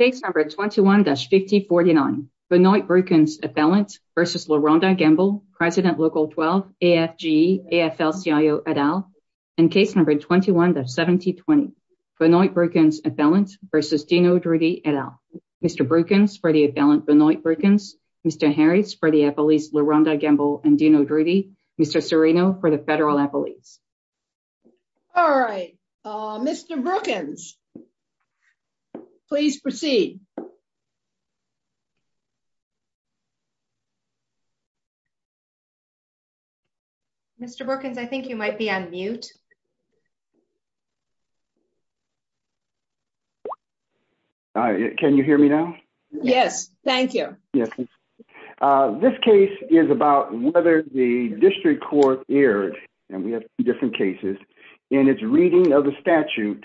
v. AFL-CIO, et al., and case number 21-7020, Benoit Brookens appellant v. Dino Drudy, et al. Mr. Brookens for the appellant, Benoit Brookens. Mr. Harris for the appellees, Larhonda Gamble and Dino Drudy. Mr. Serino for the federal appellees. Mr. Brookens, you have the floor. Thank you. Mr. Brookens, please proceed. Mr. Brookens, I think you might be on mute. Can you hear me now? Yes. Thank you. This case is about whether the district court enforce a statute that was aired in its reading of the statute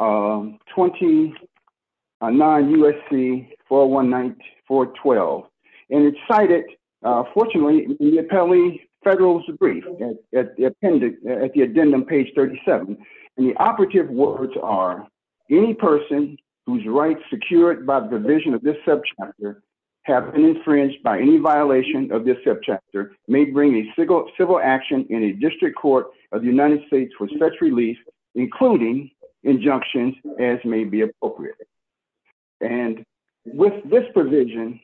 20-9 USC 419412. It's cited, fortunately, in the appellee federal's brief at the addendum page 37. The operative words are, any person whose rights secured by the division of this subchapter have been infringed by any violation of this subchapter may bring a civil action in a district court of the United States for such release, including injunctions as may be appropriate. With this provision,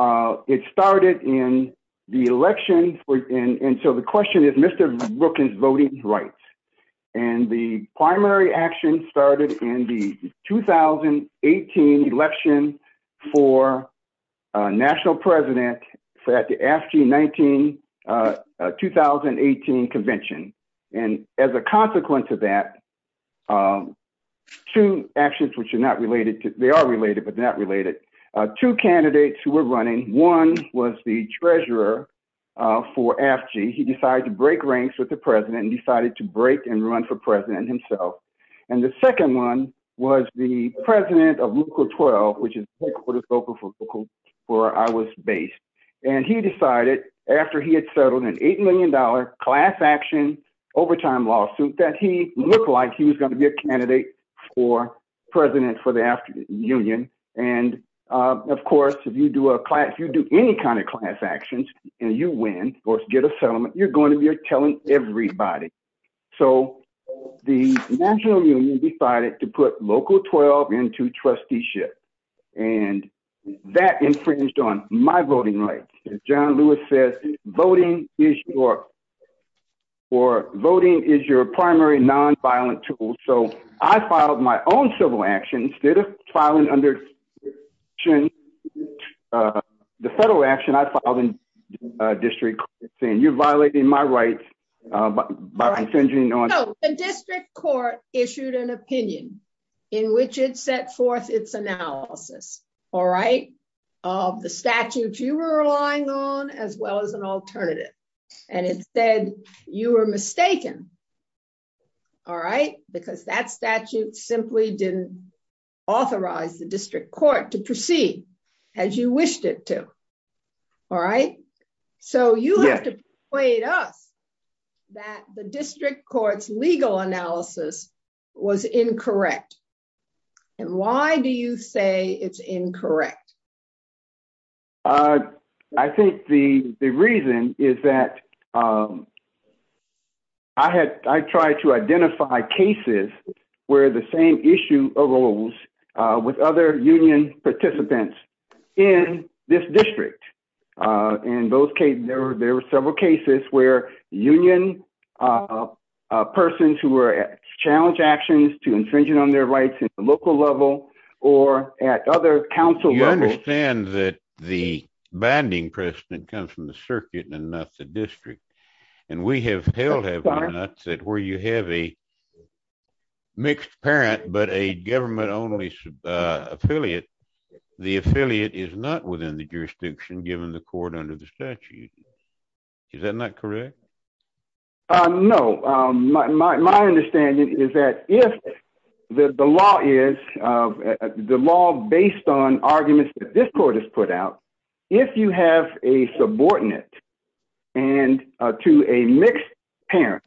it started in the election and so the question is, Mr. Brookens voting rights and the primary action started in the 2018 election for national president at the AFG 2018 convention. As a consequence of that, two actions which are not related, they are related but not related, two candidates who were running, one was the treasurer for AFG and he decided to break ranks with the president and decided to break and run for president himself. The second one was the president of local 12 where I was based. He decided after he had settled an $8 million class action overtime lawsuit that he looked like he was going to be a candidate for president for the AFG and he said if you don't run for president for the AFG and you win or get a settlement, you are going to be telling everybody. The national union decided to put local 12 into trusteeship and that infringed on my voting rights. As John Lewis says, voting is your primary nonviolent tool. I filed my own civil action instead of filing the federal action. You are violating my rights. The district court issued an opinion in which it set forth its analysis of the statute you were relying on as well as an alternative. It said you were mistaken because that statute simply did not authorize the district court to proceed as you wished it to. You have to point out that the district court's legal analysis was incorrect. Why do you say it is incorrect? I think the reason is that I tried to identify cases where the same issue arose with other union participants in this district. There were several cases where union persons who were challenging actions to infringe on their rights at the local level or at other council levels. You understand that the binding precedent comes from the circuit and not the district. We have held evidence that where you have a mixed parent but a government only affiliate, the affiliate is not within the jurisdiction given the court under the statute. Is that not correct? My understanding is that if the law is based on arguments that this court has put out, if you have a subordinate to a mixed parent,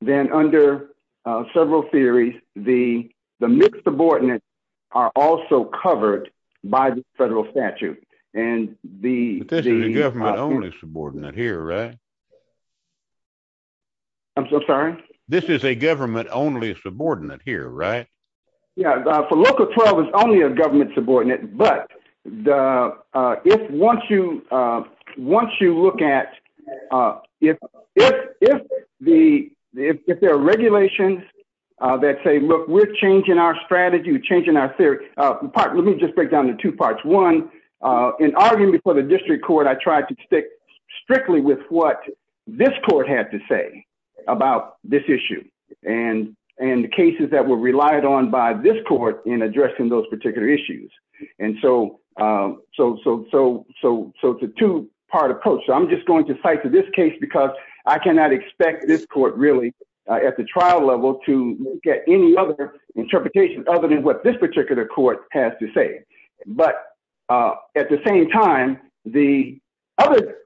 then under several theories, the mixed subordinates are also covered by the federal statute. This is a government only subordinate? I'm so sorry? This is a government only subordinate? For local 12, it is only a government subordinate. Once you look at if there are regulations that say we are changing our strategy or theory, it is a government only subordinate. Let me break it down into two parts. In arguing for the district court, I tried to stick strictly with what this court had to say about this issue. The cases that were relied on by this court in addressing those particular issues. It is a two-part approach. I cannot expect this court at the trial level to get any other interpretation other than what this particular court has to say. At the same time, the other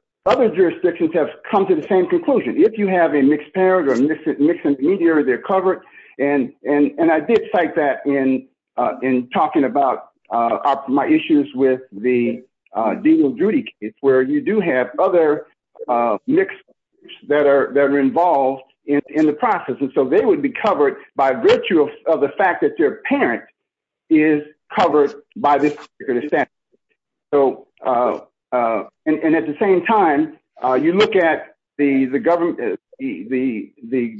jurisdictions have come to the same conclusion. If you have a mixed parent or mixed intermediary, they are covered. I did cite that in talking about my issues with the Dean of Duty case where you do have other mixed parents that are involved in the process. They would be covered by virtue of the fact that their parent is covered by this particular statute. At the same time, you look at the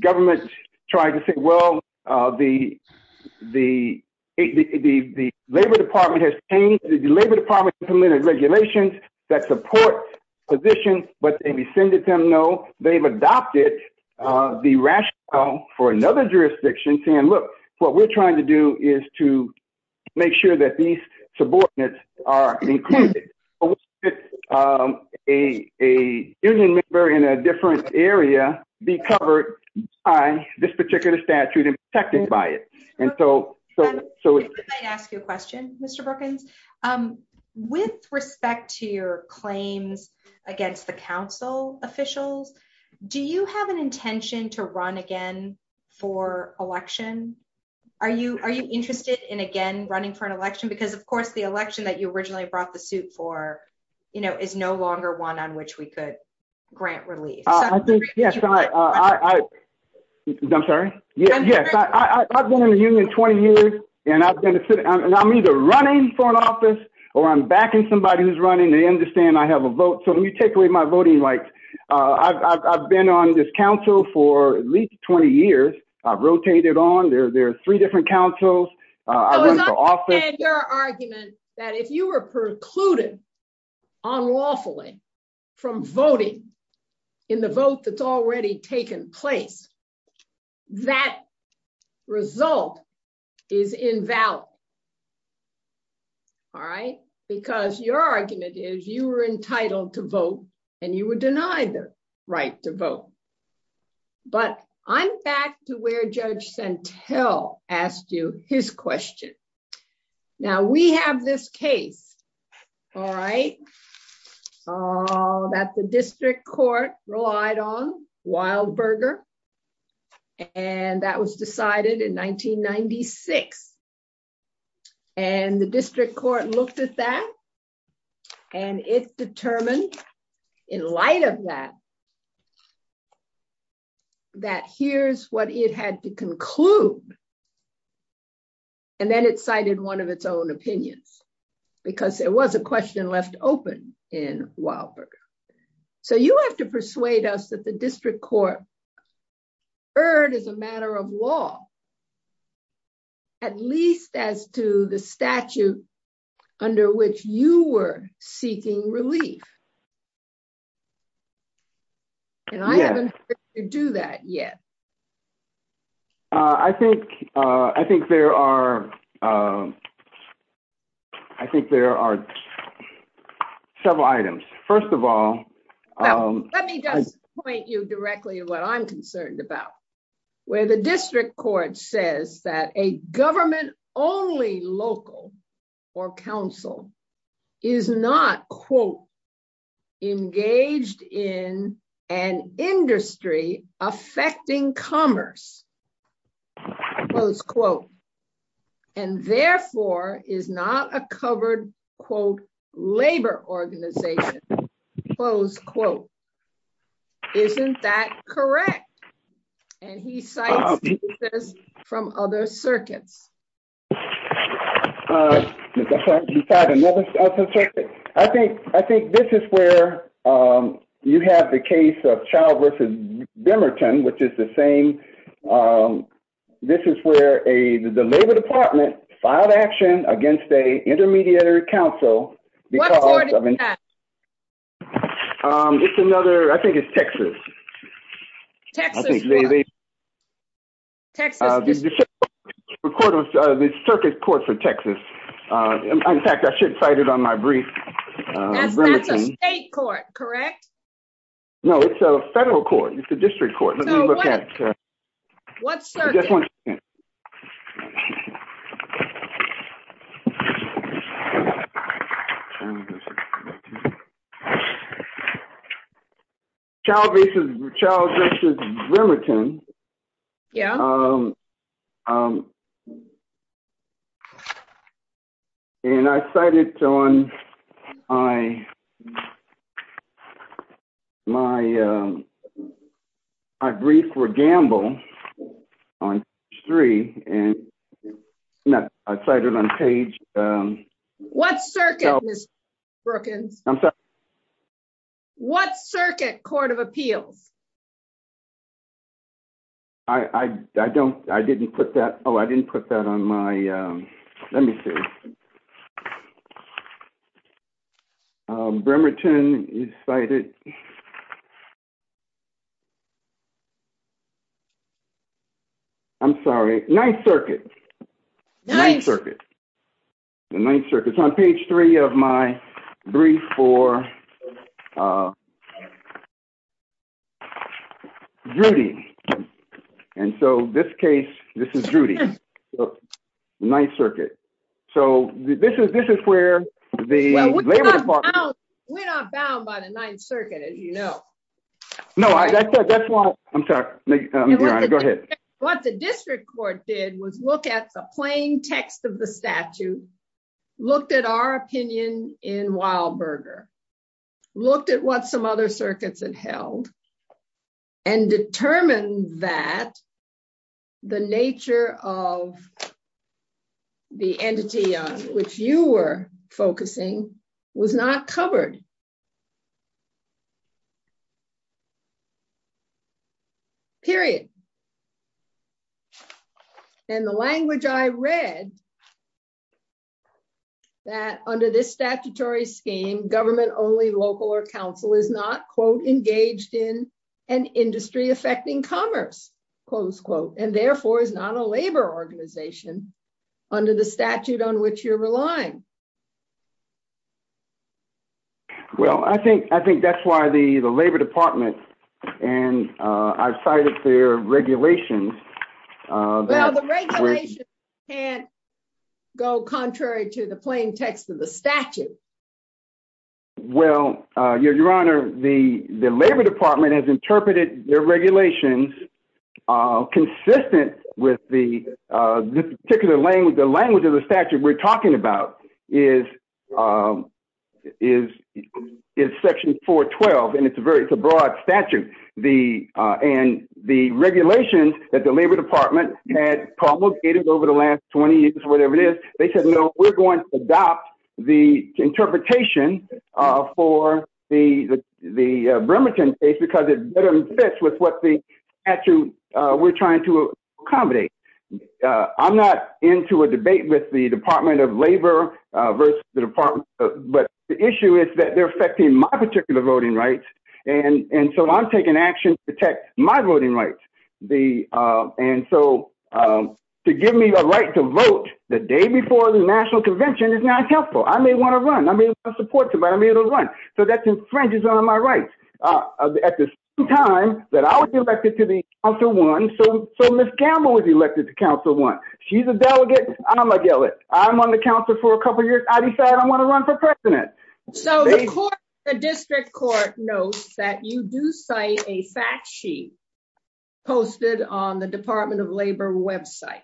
government trying to say the Labor Department has changed the regulations that support positions but they have adopted the rationale for another jurisdiction saying what we are trying to do is make sure these subordinates are included. A union member in a different area be covered by this particular statute and protected by it. That is what we are trying to do. that we are doing the right thing. With respect to your claims against the Council officials, do you have an intention to run again for election? Are you interested in again running for an election? The election that you originally brought the suit for is no longer one on which we could grant relief. I am sorry? I have been in the union 20 years and I am either running for an office or backing somebody who is running and they understand I have a vote. I have been on this Council for at least 20 years. I have rotated on. There are three different Councils. I am running for office. I understand your argument that if you were precluded unlawfully from voting in the vote that has already taken place that result is invalid. Because your argument is you are entitled to vote and you would deny the right to vote. I am back to where Judge Santel asked you his question. We have this case that the district court relied on and that was decided in 1996. The district court looked at that and it determined in light of that that here is what it had to conclude and then it cited one of its own opinions. There was a question left open. You have to persuade us that the district court is a matter of law at least as to the statute under which you were seeking relief. I have not heard you do that yet. I think there are several items. First of all. Let me just point you directly to what I am concerned about. The district court says that a government only local or counsel is not engaged in an industry affecting commerce and therefore is not a covered labor organization. Isn't that correct? And he cites from other circuits. I think this is where you have the case of which is the same. This is where the labor department filed action against an intermediary counsel. I think it is Texas. The circuit court for Texas. I should cite it on my brief. That is a state court, correct? No, it is a federal court. It is a district court. What circuit? Child v. Remington. I cite it on my brief for gamble. What circuit? What circuit court of appeals? I did not put that on my brief. Bremerton. I'm sorry. Ninth circuit. It is on page 3 of my brief for Judy. This is where. We are not bound by the ninth circuit. Go ahead. What the district court did was look at the plain text of the statute and looked at our opinion and looked at what some other circuits had held and determined that the nature of the entity which you were focusing was not covered. Period. And the language I read that under this statutory scheme, government only local or council is not engaged in an industry affecting commerce. Therefore, it is not a labor organization under the statute on which you are relying. I think that is why the labor department and I cited their regulations. The regulations can't go contrary to the plain text of the statute. Your Honor, the labor department has interpreted their regulations consistent with the particular language of the statute we are talking about is section 412. It is a broad statute. The regulations that the labor department had promulgated over the last 20 years, they said we are going to adopt the interpretation for the Bremerton case because it fits with what the statute we are trying to accommodate. I am not into a debate with the Department of Labor. The issue is that they are affecting my particular voting rights. I am taking action to protect my voting rights. To give me the right to vote the day before the national convention is not helpful. I may want to run. That infringes on my rights. At the same time, I was elected to the council one. She is a delegate. I am on the council for a couple of years. I decide I want to run for president. The district court knows that you do cite a fact sheet posted on the Department of Labor website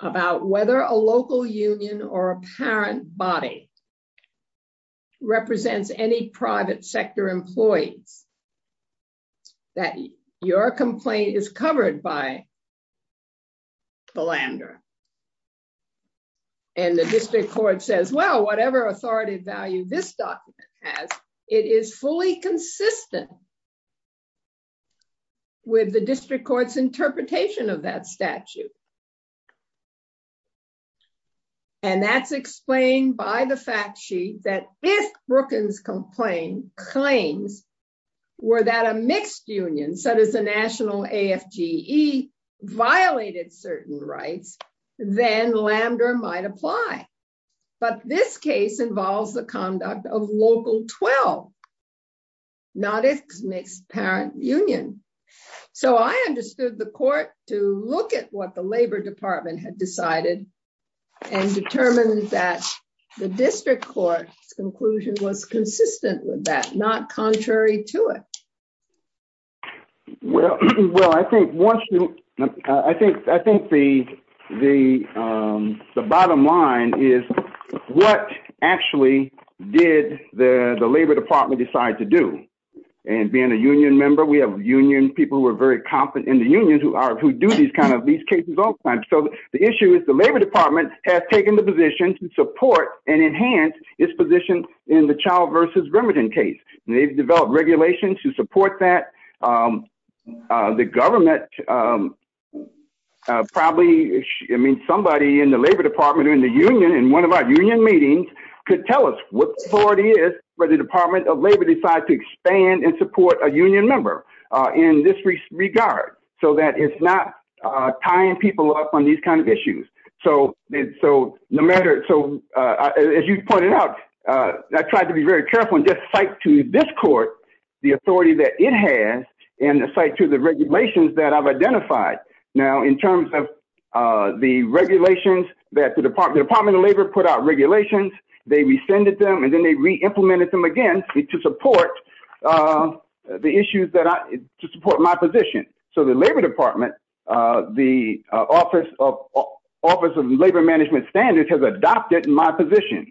about whether a local union or parent body represents any private sector employees. Your complaint is covered by the Lambda. The district court says whatever authority value this document has, it is fully consistent with the district court's interpretation of that statute. That is explained by the fact sheet that if Brookings claims that a mixed union violated certain rights, then Lambda might apply. This case involves the conduct of local 12. I understood the court to look at what the Labor Department had decided and determined that the district court's conclusion was consistent with that. Not contrary to it. I think the bottom line is what actually did the Labor Department decide to do? Being a union member, we have union people who are very confident in the unions. The issue is the Labor Department has taken the position to support and enhance its position in the child versus remittance case. They have developed regulations to support that. The government, probably somebody in the Labor Department in one of our union meetings could tell us what the authority is. It is not tying people up on these kinds of issues. As you pointed out, I tried to be very careful and cite to this court the authority it has and the regulations I have identified. In terms of the regulations, the Department of Labor put out regulations, they rescinded them and reimplemented them again to support my position. The Labor Department, the office of labor management standards has adopted my position.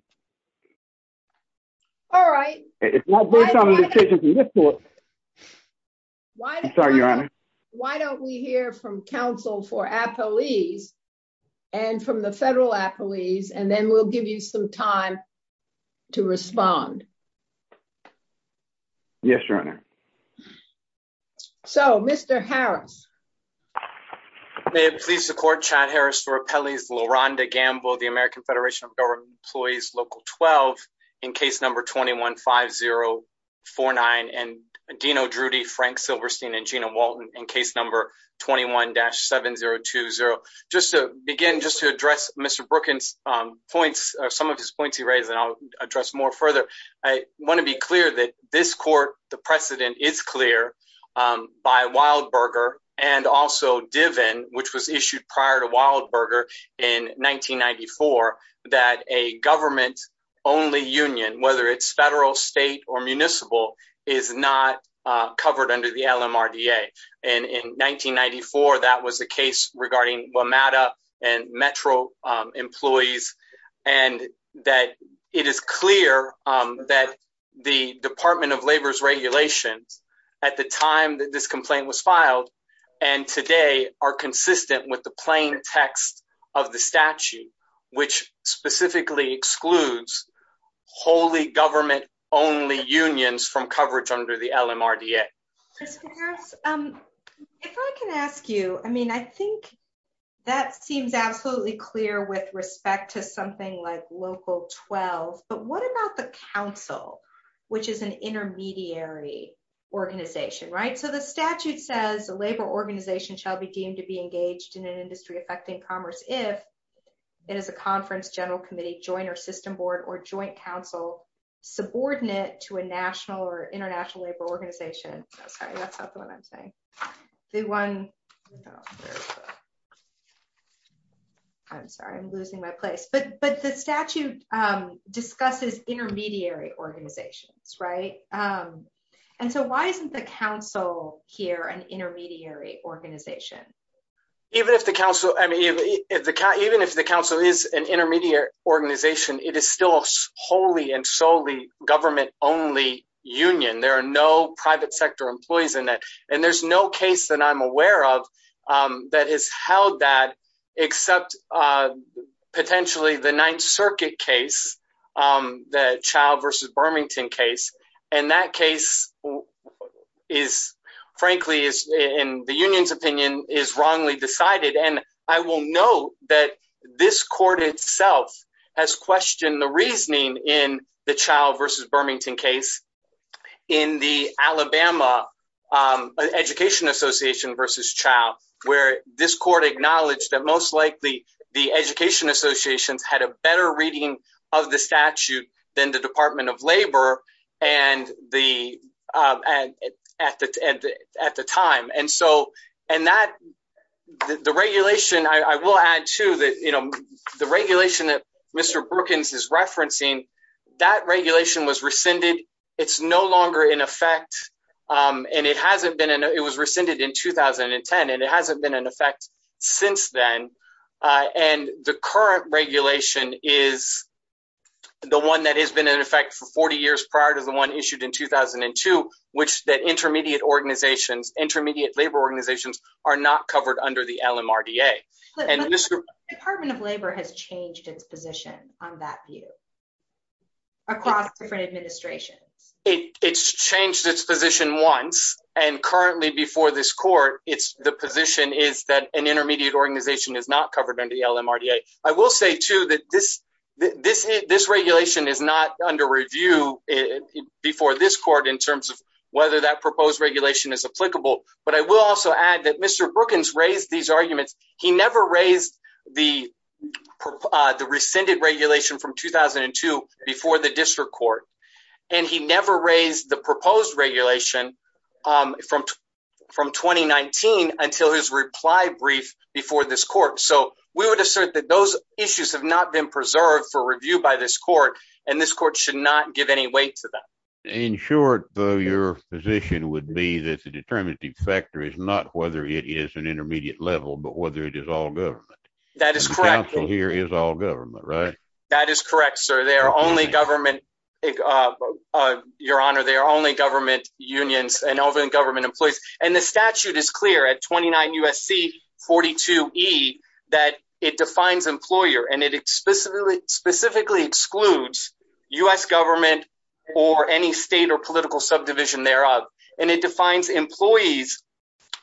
It is not based on a decision from this court. Sorry, Your Honor. Why don't we hear from counsel for some time to respond. Yes, Your Honor. Mr. Harris. May it please the court, the American Federation of employees in case number 215049 and in case number 21-7020. Thank you, Your Honor. To begin, to address Mr. Brookings, I want to be clear that this court, the precedent is clear by Wildberger and also Diven, that a government only union, whether it is federal, state or municipal, is not covered under the LMRDA. In 1994, that was the case regarding Metro employees. It is clear that the Department of Labor's regulations at the time this complaint was filed and today are consistent with the plain text of the statute, which specifically excludes wholly government only unions from coverage under the LMRDA. If I can ask you, I think that seems absolutely clear with respect to something like local 12, but what about the council, which is an intermediary organization? The statute says a labor organization shall be deemed to be engaged in an industry affecting commerce if it is a conference, general committee, joint or system board or joint council subordinate to a national or international labor organization. I'm sorry, I'm losing my place. The statute discusses intermediary organizations. Why isn't the council here an intermediary organization? Even if the council is an intermediary organization, it is still wholly and solely government only union. There are no private sector employees and there is no case that I am aware of that has held that except potentially the Ninth Circuit case, the child versus Birmingham case. That case, frankly, in the union's opinion, is wrongly decided. I will note that this court itself has questioned the reasoning in the child versus Birmingham case in the Alabama education association versus child, where this court acknowledged that most likely the education associations had a better reading of the statute than the Department of Labor at the time. The regulation, I will add to the regulation that Mr. Brookings is referencing, that regulation was rescinded. It is no longer in effect. It was rescinded in 2010. It hasn't been in effect since then. The current regulation is the one that has been in effect for 40 years prior to the one issued in 2002. Intermediate labor organizations are not covered under the LMRDA. The Department of Labor has changed its position on that view across different administrations. It has changed its position once and currently before this court, the position is that an intermediate organization is not covered under the LMRDA. This regulation is not under review before this court in terms of whether that proposed regulation is applicable. I will also add that Mr. Brookings raised these arguments. He never raised the rescinded regulation from 2002 before the district court. He never raised the proposed regulation from 2019 until his reply brief before this court. We would assert that those issues have not been preserved for review by this court. This court should not give any weight to that. In short, your position would be that the determining factor is not whether it is an intermediate level, but whether it is all government. Council here is all government, right? That is correct, sir. They are only government unions and government employees. The statute is clear at 29 U.S.C. 42E that it defines employer and it specifically excludes U.S. government or any state or political subdivision thereof. It defines employees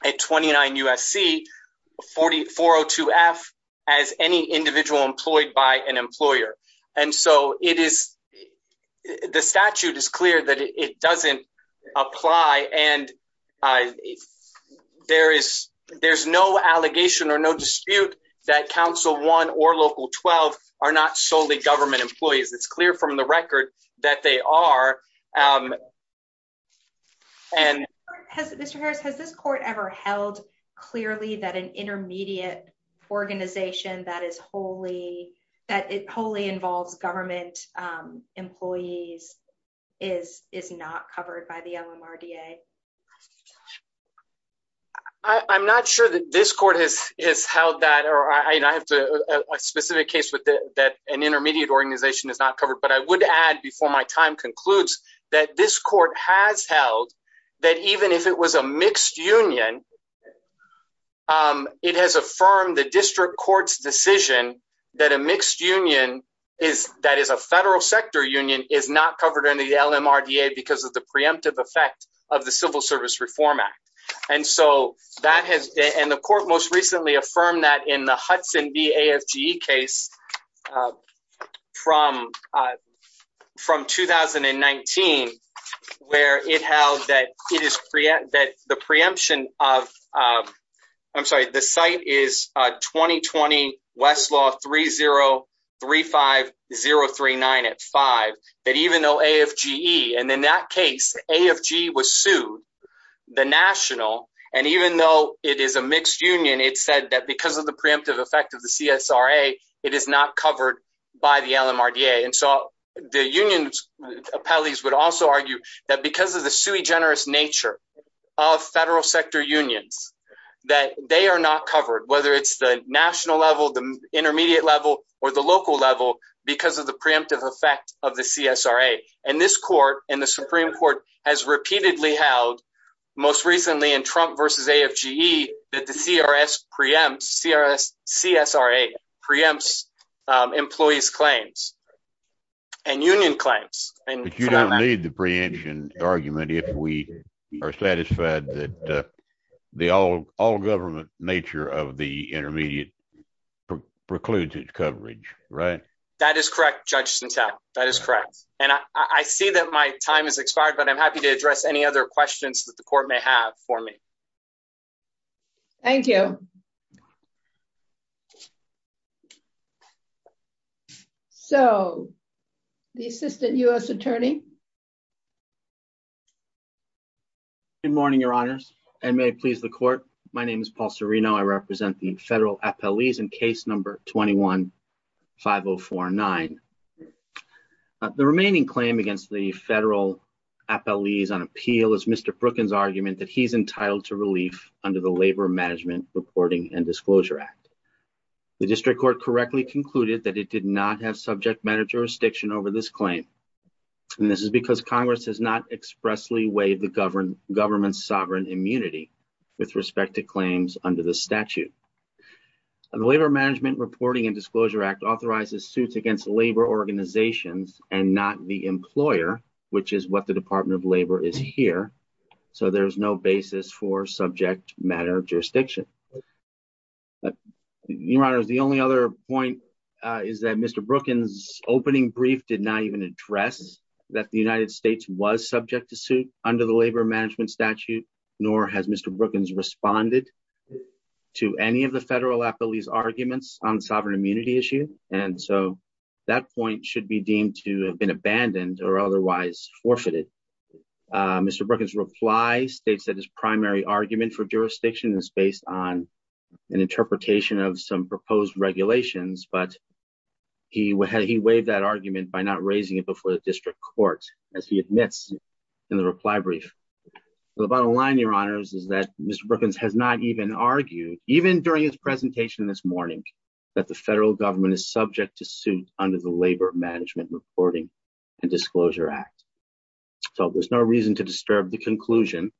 at 29 U.S.C. 402F as any individual employed by an employer. The statute is clear that it does not apply. There is no allegation or dispute that Council 1 or Local 12 are not solely government employees. It is clear from the record that they are. Mr. Harris, has this court ever held clearly that an intermediate organization that wholly involves government employees is not covered by the LMRDA? I am not sure that this court has held that. I have a specific case that an intermediate organization is not covered. I would add before my time concludes that this court has held that even if it was a mixed union, it has affirmed the district court's decision that a mixed union that is a federal sector union is not covered by the LMRDA because of the preemptive effect of the Civil Service Reform Act. The court most recently affirmed that in the case of Westlaw, from 2019, it held that the site is 2020 Westlaw 3035039 at 5. It held that even though AFGE was sued, the national, and even though it is a mixed union, it said that because of the preemptive effect of the CSRA, it is not covered by the LMRDA. The union appellees would also argue that because of the sui generis nature of federal sector unions, they are not covered, whether it is the national level, the intermediate level, or the local level because of the preemptive effect of the CSRA. This court has repeatedly held most recently in Trump versus AFGE that the CSRA preempts employees claims. And union claims. I don't have the preemption argument if we are satisfied that the all government nature of the intermediate precludes its coverage. That is correct, Judge. I see that my time has expired but I am happy to address any other questions that the court may have. Thank you. Thank you. The assistant U.S. attorney. Good morning, your honors. I represent the federal appellees in case number 215049. The remaining claim against the federal labor management reporting and disclosure act. The district court correctly concluded that it did not have subject matter jurisdiction over this claim. This is because Congress has not expressly waived the government's sovereign immunity with respect to claims under the statute. The labor management reporting and disclosure act authorizes suits against labor organizations and not the employer, which is what the Department of Labor is here. So there is no basis for subject matter jurisdiction. Your honors, the only other point is that Mr. Brookings opening brief did not even address that the United States was subject to suit under the labor management statute, nor has Mr. Brookings responded to any of the federal appellees arguments on sovereign immunity issue. And so that point should be deemed to have been abandoned or otherwise forfeited. Mr. Brookings reply states that his primary argument for jurisdiction is based on an interpretation of some proposed regulations, but he had he waived that argument by not raising it before the district court, as he admits in the reply brief. The bottom line, your honors, is that Mr. Brookings has not even argued, even during his presentation this morning, that the federal government is subject to suit under the labor management reporting and disclosure act. So there's no reason to disturb the conclusion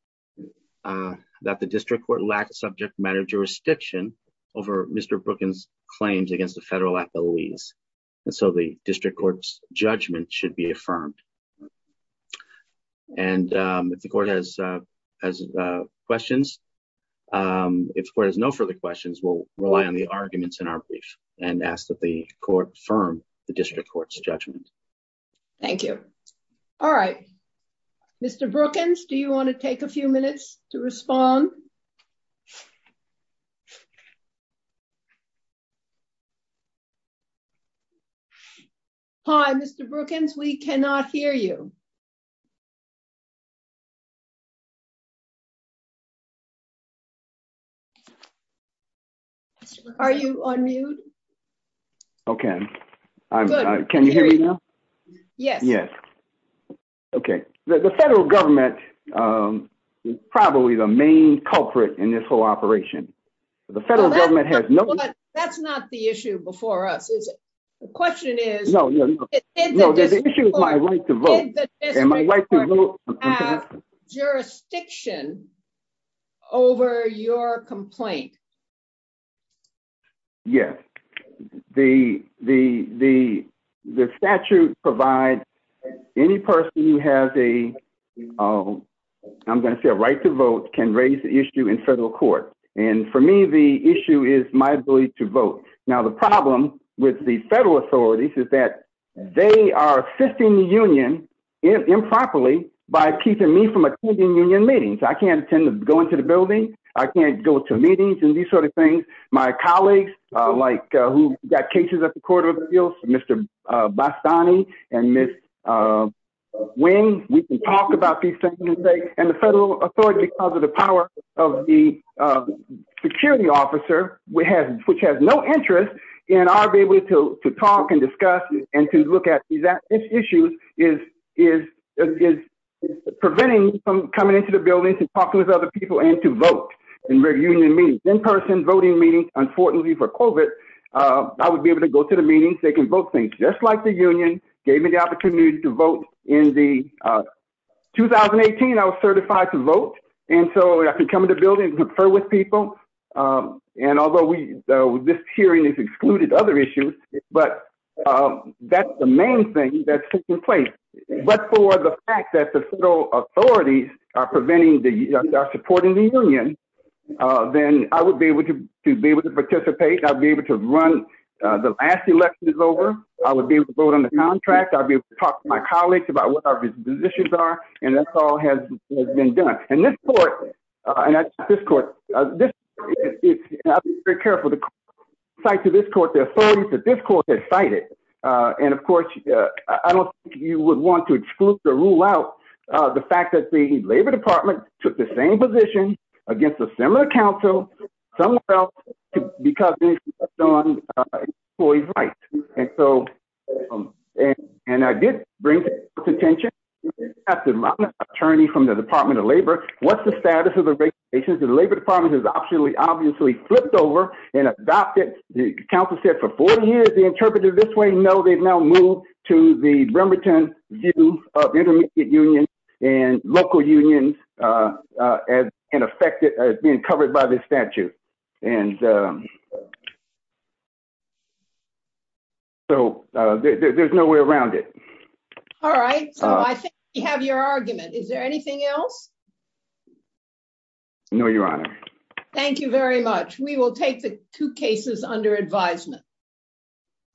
that the district court lacked subject matter jurisdiction over Mr. Brookings claims against the federal appellees. And so the district court's judgment should be affirmed. And if the court has questions, if the court has no further questions, we'll rely on the arguments in our brief and ask that the court affirm the district court's judgment. Thank you. All right. Mr. Brookings, do you want to take a few minutes to respond? Hi, Mr. Brookings, we cannot hear you. Are you on mute? Okay. Can you hear me now? Yes. Yes. Okay. The federal government is probably the main culprit in this whole operation. The federal government has no... That's not the issue before us, is it? The question is... No, no, no. The issue is my right to vote. Did the district court have jurisdiction over your complaint? Yes. The statute provides any person who has a... I'm going to say a right to vote can raise the issue in federal court. And for me, the issue is my ability to vote. Now, the problem with the federal authorities is that they are assisting the union improperly by keeping me from attending union meetings. I can't attend... Go into the building. I can't go to meetings and these sort of things. My colleagues like who got cases at the court of appeals, Mr. Bastani and Ms. Nguyen, we can talk about these things. And the federal authority, because of the power of the security officer, which has no interest in our being able to talk and discuss and to look at these issues is preventing me from coming into the buildings and talking with other people and to vote in union meetings. In-person voting meetings, unfortunately for COVID, I would be able to go to the meetings. They can vote things just like the union gave me the opportunity to vote in the... 2018, I was certified to vote. And so I can come into buildings and confer with people. And although this hearing has excluded other issues, but that's the main thing that's not excluded. If it was the fact that the federal authorities are preventing the... are supporting the union, then I would be able to be able to participate. I would be able to run... The last election is over. I would be able to vote on the contract. I would be able to talk to my colleagues about what our positions are. And that's all has been done. And this court... And this court... I've been very careful to cite to this court the fact that the labor department took the same position against a similar council somewhere else because they... And so... And I did bring to attention... attorney from the Department of Labor. What's the status of the regulations? The Labor Department has obviously flipped over and adopted... The council said for 40 years they interpreted it this way. No, they've now moved to the other side. And they've now adopted a new form of intermediate union and local unions as being covered by this statute. And... So there's no way around it. All right. So I think we have your argument. Is there anything else? No, Your Honor. Thank you very much. We will take the two cases under advisement.